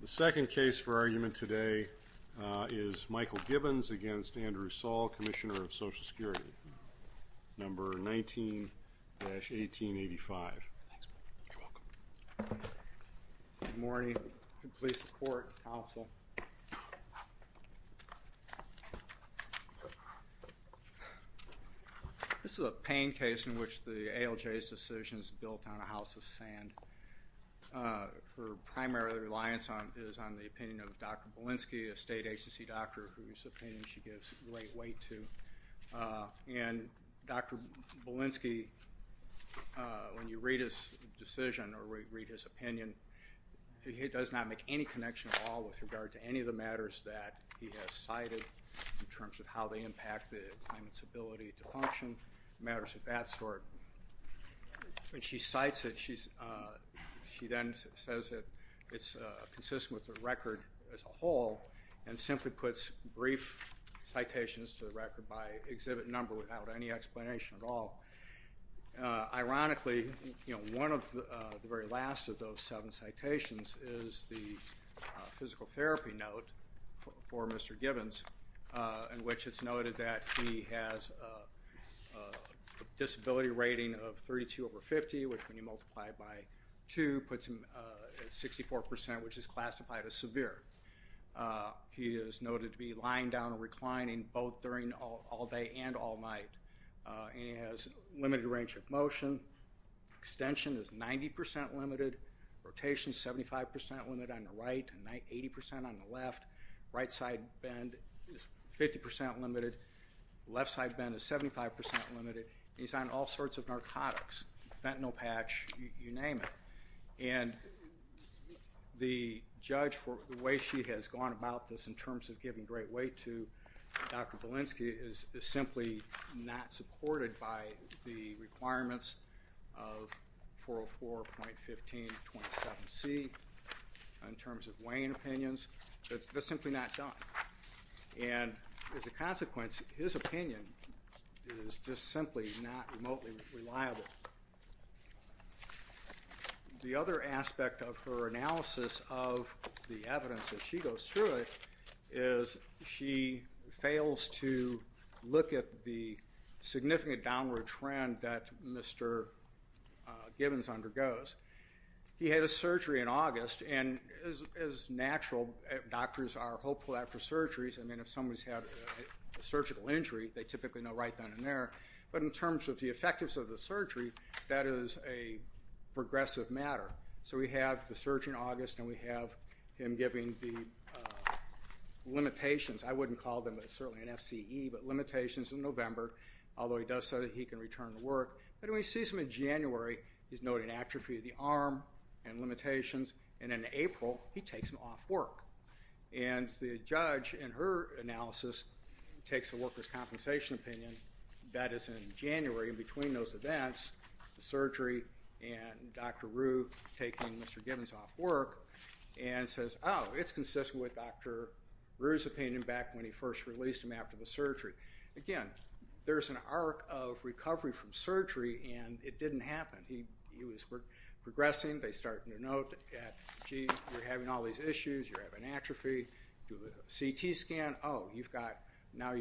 The second case for argument today is Michael Gibbons v. Andrew M. Saul, Commissioner of Social Security, number 19-1885. Good morning. Please support, counsel. This is a pain case in which the ALJ's decision is built on a house of sand. Her primary reliance is on the opinion of Dr. Bolinski, a state agency doctor, whose opinion she gives great weight to. And Dr. Bolinski, when you read his decision or read his opinion, he does not make any connection at all with regard to any of the matters that he has cited in terms of how they impact the claimant's ability to function, matters of that sort. She cites it. She then says that it's consistent with the record as a whole and simply puts brief citations to the record by exhibit number without any explanation at all. Ironically, you know, one of the very last of those seven citations is the physical therapy note for Mr. Gibbons in which it's noted that he has a disability rating of 32 over 50, which when you multiply it by 2 puts him at 64 percent, which is classified as severe. He is noted to be lying down and reclining both during all day and all night. And he has limited range of motion. Extension is 90 percent limited. Rotation is 75 percent limited on the right and 80 percent on the left. Right side bend is 50 percent limited. Left side bend is 75 percent limited. He's on all sorts of narcotics, fentanyl patch, you name it. And the judge for the way she has gone about this in terms of giving great weight to Dr. Gibbons is not supported by the requirements of 404.1527C in terms of weighing opinions. It's just simply not done. And as a consequence, his opinion is just simply not remotely reliable. The other aspect of her analysis of the evidence that she goes through it is she fails to look at the significant downward trend that Mr. Gibbons undergoes. He had a surgery in August, and as natural doctors are hopeful after surgeries, I mean if somebody's had a surgical injury, they typically know right then and there. But in terms of the effectiveness of the surgery, that is a progressive matter. So we have the surgery in August and we have him giving the limitations. I wouldn't call them certainly an FCE, but limitations in November, although he does say that he can return to work, but when he sees them in January, he's noting atrophy of the arm and limitations, and in April, he takes them off work. And the judge in her analysis takes a worker's compensation opinion that is in January, and between those events, the surgery and Dr. Rue taking Mr. Gibbons off work, and says, oh, it's consistent with Dr. Rue's opinion back when he first released him after the surgery. Again, there's an arc of recovery from surgery, and it didn't happen. He was progressing. They started to note that, gee, you're having all these issues, you're having atrophy, do a CT scan, oh, you've got, now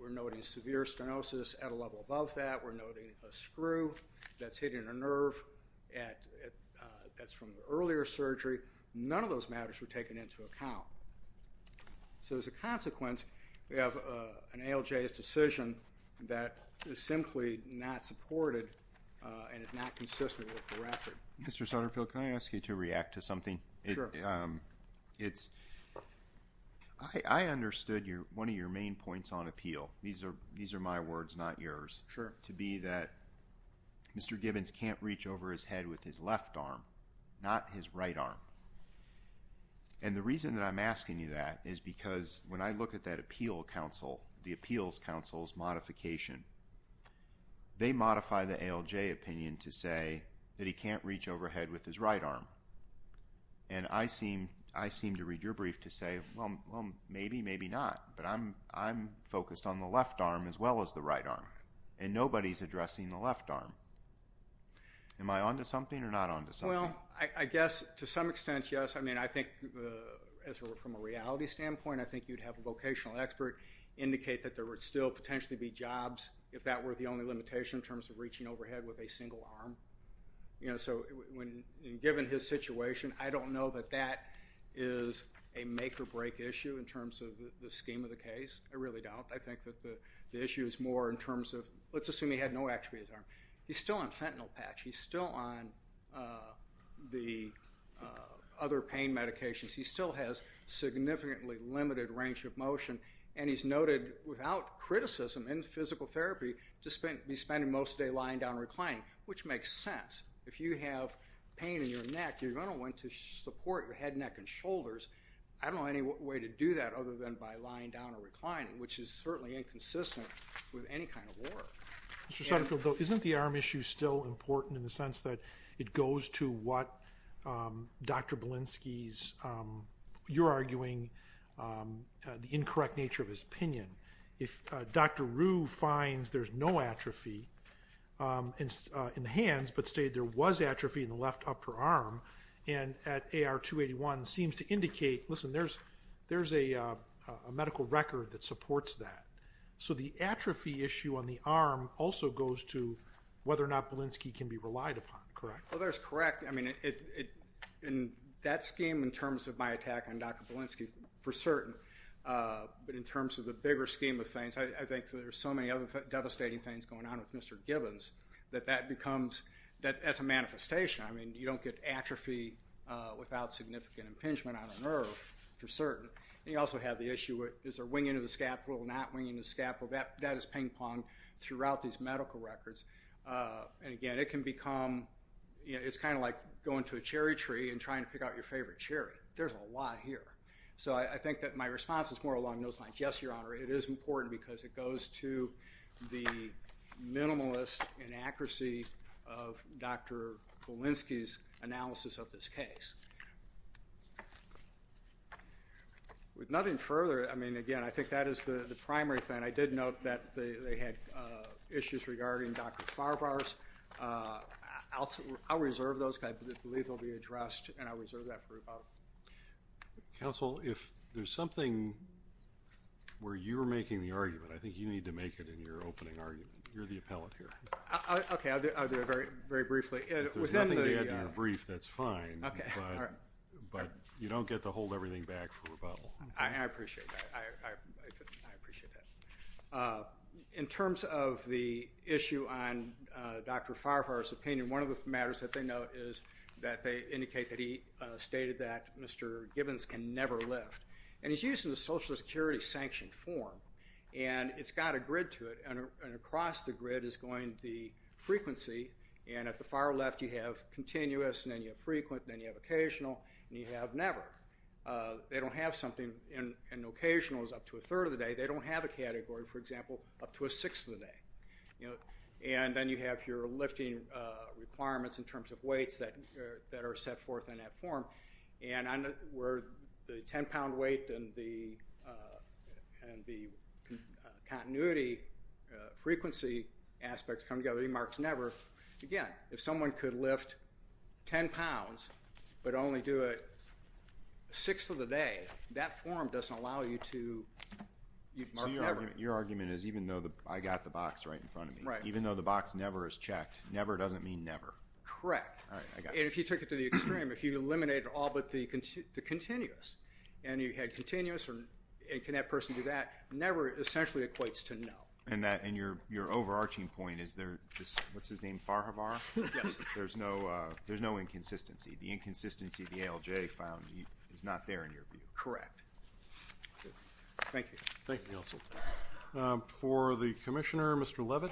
we're noting severe stenosis at a level above that. We're noting a screw that's hitting a nerve that's from the earlier surgery. None of those matters were taken into account. So as a consequence, we have an ALJ's decision that is simply not supported and is not consistent with the record. Mr. Sutterfield, can I ask you to react to something? Sure. It's, I understood one of your main points on appeal, these are my words, not yours, to be that Mr. Gibbons can't reach over his head with his left arm, not his right arm. And the reason that I'm asking you that is because when I look at that appeal counsel, the appeals counsel's modification, they modify the ALJ opinion to say that he can't reach overhead with his right arm. And I seem to read your brief to say, well, maybe, maybe not, but I'm focused on the left arm as well as the right arm, and nobody's addressing the left arm. Am I on to something or not on to something? Well, I guess to some extent, yes. I mean, I think as from a reality standpoint, I think you'd have a vocational expert indicate that there would still potentially be jobs if that were the only limitation in terms of reaching overhead with a single arm. You know, so when, given his situation, I don't know that that is a make or break issue in terms of the scheme of the case. I really don't. I think that the issue is more in terms of, let's assume he had no atrophy of his arm. He's still on fentanyl patch. He's still on the other pain medications. He still has significantly limited range of motion. And he's noted without criticism in physical therapy to be spending most of the day lying down and reclining, which makes sense. If you have pain in your neck, you're going to want to support your head, neck, and shoulders. I don't know any way to do that other than by lying down or reclining, which is certainly inconsistent with any kind of work. Mr. Sutterfield, though, isn't the arm issue still important in the sense that it goes to what Dr. Belinsky's, you're arguing, the incorrect nature of his pinion? If Dr. Rue finds there's no atrophy in the hands, but stated there was atrophy in the left upper arm, and at AR 281, seems to indicate, listen, there's a medical record that supports that. So the atrophy issue on the arm also goes to whether or not Belinsky can be relied upon, correct? Well, that's correct. I mean, in that scheme, in terms of my attack on Dr. Belinsky, for certain. But in terms of the bigger scheme of things, I think there's so many other devastating things going on with Mr. Gibbons that that becomes, that's a manifestation. I mean, you don't get atrophy without significant impingement on a nerve, for certain. And you also have the issue, is there winging of the scapula or not winging of the scapula? That is ping ponged throughout these medical records. And again, it can become, it's kind of like going to a cherry tree and trying to pick out your favorite cherry. There's a lot here. So I think that my response is more along those lines. Yes, Your Honor, it is important because it goes to the minimalist inaccuracy of Dr. Belinsky's analysis of this case. With nothing further, I mean, again, I think that is the primary thing. I did note that they had issues regarding Dr. Farbar's. I'll reserve those. I believe they'll be addressed, and I'll reserve that for rebuttal. Counsel, if there's something where you're making the argument, I think you need to make it in your opening argument. You're the appellate here. Okay, I'll do it very briefly. If there's nothing to add to your brief, that's fine, but you don't get to hold everything back for rebuttal. I appreciate that. I appreciate that. In terms of the issue on Dr. Farbar's opinion, one of the matters that they note is that they indicate that he stated that Mr. Gibbons can never lift, and he's using the Social Security sanctioned form, and it's got a grid to it, and across the grid is going the frequency, and at the far left, you have continuous, and then you have frequent, and then you have occasional, and you have never. They don't have something, and occasional is up to a third of the day. They don't have a category, for example, up to a sixth of the day. And then you have your lifting requirements in terms of weights that are set forth in that form, and where the 10-pound weight and the continuity frequency aspects come together, he marks never. Again, if someone could lift 10 pounds but only do it a sixth of the day, that form doesn't allow you to mark never. Your argument is, even though I got the box right in front of me, even though the box never is checked, never doesn't mean never. Correct. And if you took it to the extreme, if you eliminated all but the continuous, and you had continuous, and can that person do that, never essentially equates to no. And your overarching point is there, what's his name, Farhabar? Yes. There's no inconsistency. The inconsistency, the ALJ found, is not there in your view. Correct. Thank you. Thank you. Thank you, counsel. For the commissioner, Mr. Leavitt.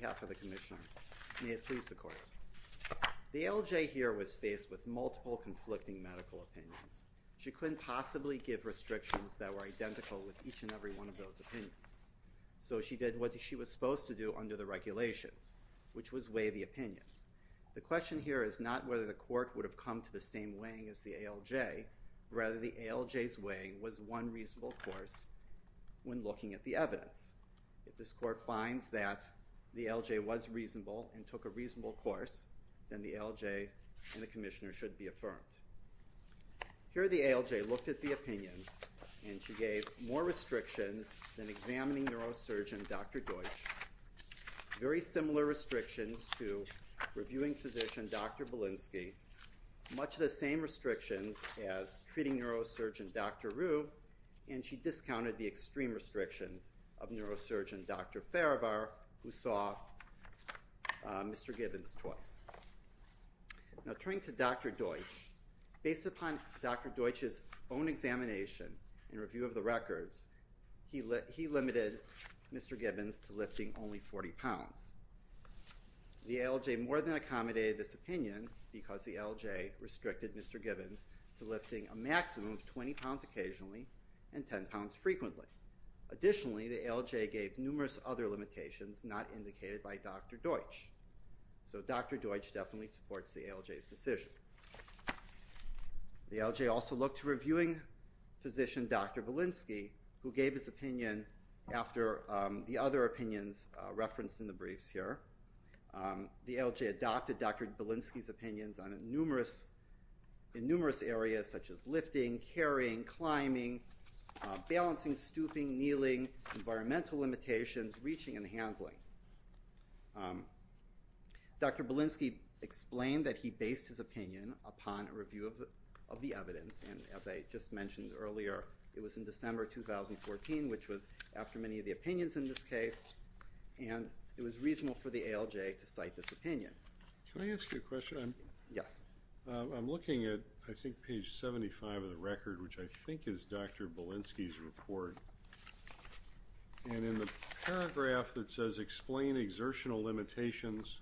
Good morning. May it please the court. The ALJ here was faced with multiple conflicting medical opinions. She couldn't possibly give restrictions that were identical with each and every one of those opinions. So she did what she was supposed to do under the regulations, which was weigh the opinions. The question here is not whether the court would have come to the same weighing as the ALJ. Rather, the ALJ's weighing was one reasonable course when looking at the evidence. If this court finds that the ALJ was reasonable and took a reasonable course, then the ALJ and the commissioner should be affirmed. Here the ALJ looked at the opinions, and she gave more restrictions than examining neurosurgeon Dr. Deutsch. Very similar restrictions to reviewing physician Dr. Belinsky. Much the same restrictions as treating neurosurgeon Dr. Rube, and she discounted the extreme restrictions of neurosurgeon Dr. Farivar, who saw Mr. Gibbons twice. Now, turning to Dr. Deutsch, based upon Dr. Deutsch's own examination and review of the records, he limited Mr. Gibbons to lifting only 40 pounds. The ALJ more than accommodated this opinion because the ALJ restricted Mr. Gibbons to lifting a maximum of 20 pounds occasionally and 10 pounds frequently. Additionally, the ALJ gave numerous other limitations not indicated by Dr. Deutsch. So Dr. Deutsch definitely supports the ALJ's decision. The ALJ also looked to reviewing physician Dr. Belinsky, who gave his opinion after the other opinions referenced in the briefs here. The ALJ adopted Dr. Belinsky's opinions in numerous areas such as lifting, carrying, climbing, balancing, stooping, kneeling, environmental limitations, reaching, and handling. Dr. Belinsky explained that he based his opinion upon a review of the evidence, and as I just mentioned earlier, it was in December 2014, which was after many of the opinions in this case, and it was reasonable for the ALJ to cite this opinion. Can I ask you a question? Yes. I'm looking at, I think, page 75 of the record, which I think is Dr. Belinsky's report, and in the paragraph that says explain exertional limitations,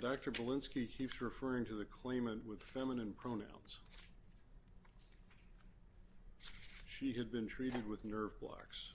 Dr. Belinsky keeps referring to the claimant with feminine pronouns. She had been treated with nerve blocks.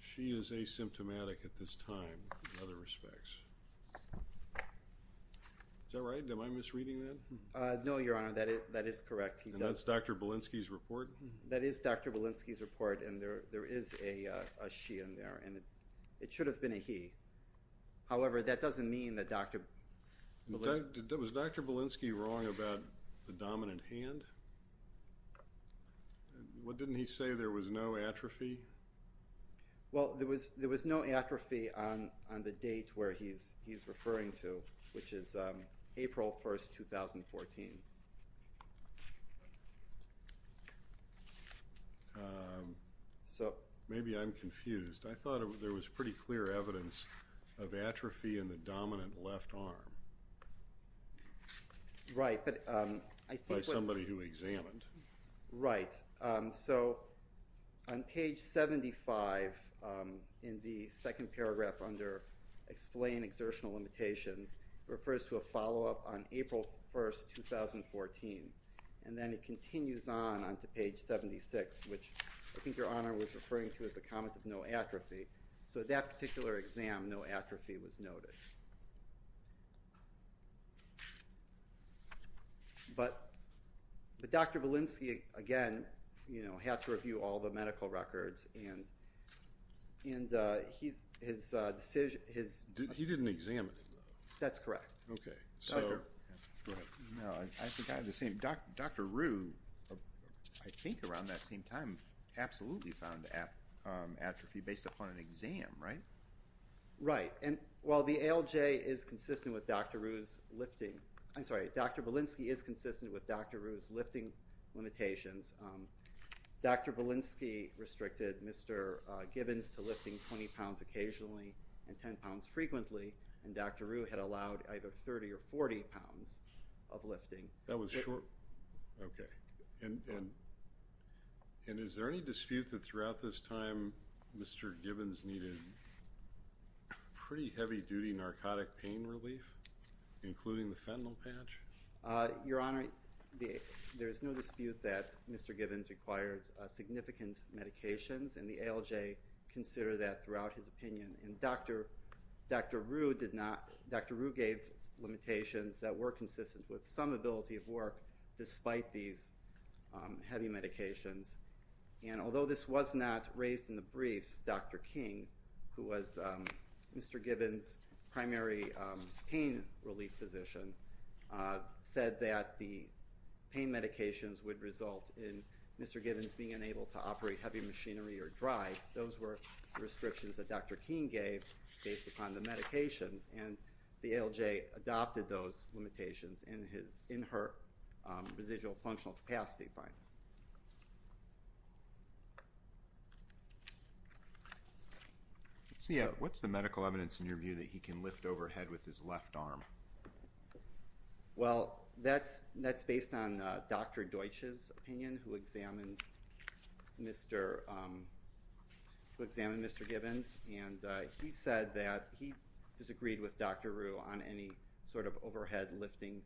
She is asymptomatic at this time in other respects. Is that right? Am I misreading that? No, Your Honor. That is correct. And that's Dr. Belinsky's report? That is Dr. Belinsky's report, and there is a she in there, and it should have been a he. However, that doesn't mean that Dr. Belinsky... Was Dr. Belinsky wrong about the dominant hand? What didn't he say? There was no atrophy? Well, there was no atrophy on the date where he's referring to, which is April 1st, 2014. Maybe I'm confused. I thought there was pretty clear evidence of atrophy in the dominant left arm by somebody who examined. Right. So on page 75 in the second paragraph under explain exertional limitations, it refers to a follow-up on April 1st, 2014, and then it continues on to page 76, which I think Your Honor was referring to as a comment of no atrophy. So that particular exam, no atrophy was noted. But Dr. Belinsky, again, had to review all the medical records, and his decision... He didn't examine it, though. That's correct. Okay. Go ahead. No, I think I have the same... Dr. Rue, I think around that same time, absolutely found atrophy based upon an exam, right? Right. And while the ALJ is consistent with Dr. Rue's lifting... I'm sorry. Dr. Belinsky is consistent with Dr. Rue's lifting limitations. Dr. Belinsky restricted Mr. Gibbons to lifting 20 pounds occasionally and 10 pounds frequently, and Dr. Rue had allowed either 30 or 40 pounds of lifting. That was short... Okay. And is there any dispute that throughout this time Mr. Gibbons needed pretty heavy-duty narcotic pain relief, including the fentanyl patch? Your Honor, there is no dispute that Mr. Gibbons required significant medications, and the ALJ considered that throughout his opinion. And Dr. Rue did not... with some ability of work despite these heavy medications. And although this was not raised in the briefs, Dr. King, who was Mr. Gibbons' primary pain relief physician, said that the pain medications would result in Mr. Gibbons being unable to operate heavy machinery or drive. Those were restrictions that Dr. King gave based upon the medications, and the ALJ adopted those limitations in her residual functional capacity. Let's see. What's the medical evidence in your view that he can lift overhead with his left arm? Well, that's based on Dr. Deutsch's opinion, who examined Mr. Gibbons, and he said that he disagreed with Dr. Rue on any sort of overhead lifting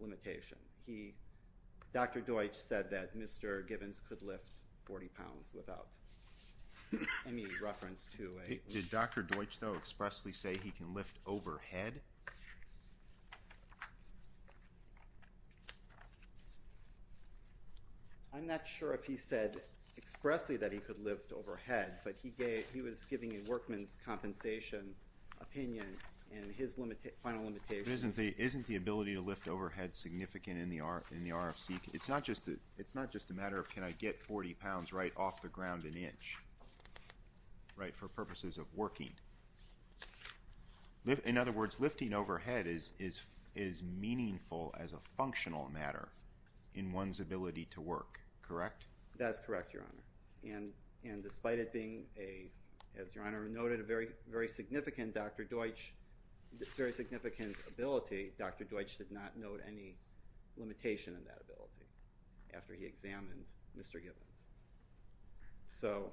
limitation. Dr. Deutsch said that Mr. Gibbons could lift 40 pounds without any reference to a... Did Dr. Deutsch, though, expressly say he can lift overhead? I'm not sure if he said expressly that he could lift overhead, but he was giving a workman's compensation opinion in his final limitation. But isn't the ability to lift overhead significant in the RFC? It's not just a matter of can I get 40 pounds right off the ground an inch, right, for purposes of working. In other words, lifting overhead is meaningful as a functional matter in one's ability to work, correct? That's correct, Your Honor. And despite it being a, as Your Honor noted, a very significant Dr. Deutsch, very significant ability, Dr. Deutsch did not note any limitation in that ability after he examined Mr. Gibbons. So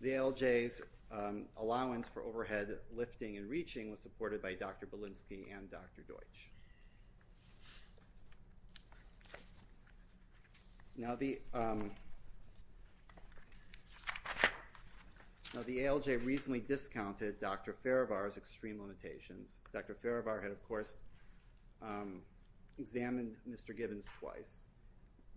the ALJ's allowance for overhead lifting and reaching was supported by Dr. Balinski and Dr. Deutsch. Now the ALJ recently discounted Dr. Farivar's extreme limitations. Dr. Farivar had, of course, examined Mr. Gibbons twice.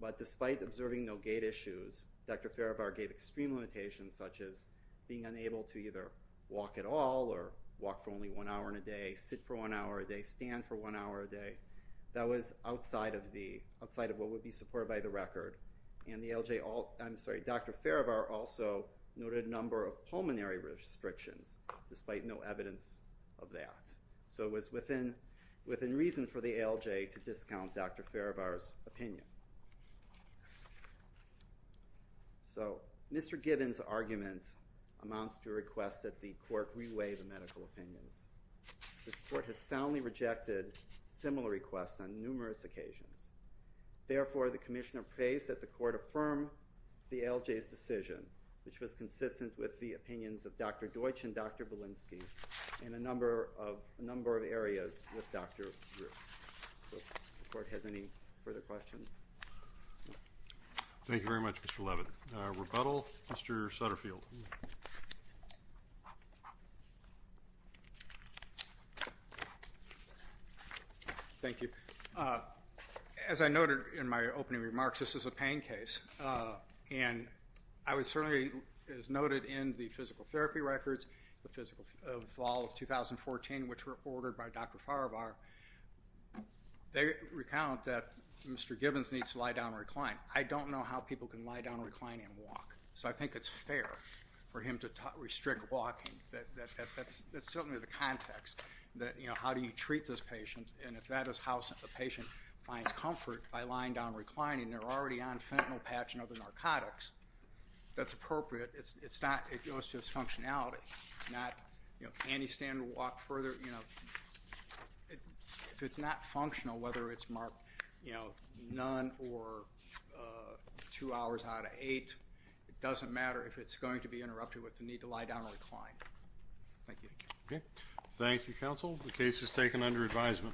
But despite observing no gait issues, Dr. Farivar gave extreme limitations, such as being unable to either walk at all or walk for only one hour in a day, sit for one hour a day, stand for one hour a day. That was outside of what would be supported by the record. And the ALJ, I'm sorry, Dr. Farivar also noted a number of pulmonary restrictions despite no evidence of that. So it was within reason for the ALJ to discount Dr. Farivar's opinion. So Mr. Gibbons' argument amounts to a request that the Court reweigh the medical opinions. This Court has soundly rejected similar requests on numerous occasions. Therefore, the Commissioner prays that the Court affirm the ALJ's decision, which was consistent with the opinions of Dr. Deutsch and Dr. Balinski in a number of areas with Dr. Ruth. So if the Court has any further questions. Thank you very much, Mr. Leavitt. Rebuttal, Mr. Sutterfield. Thank you. As I noted in my opening remarks, this is a pain case. And I would certainly, as noted in the physical therapy records of fall of 2014, which were ordered by Dr. Farivar, they recount that Mr. Gibbons needs to lie down and recline. I don't know how people can lie down and recline and walk. So I think it's fair for him to restrict walking. That's certainly the context that, you know, how do you treat this patient? And if that is how a patient finds comfort by lying down and reclining, they're already on fentanyl patch and other narcotics, that's appropriate. It's not, it goes to its functionality. It's not, you know, any standard walk further, you know, if it's not functional, whether it's marked, you know, none or two hours out of eight, it doesn't matter if it's going to be interrupted with the need to lie down and recline. Thank you. Okay. Thank you, counsel. The case is taken under advisement.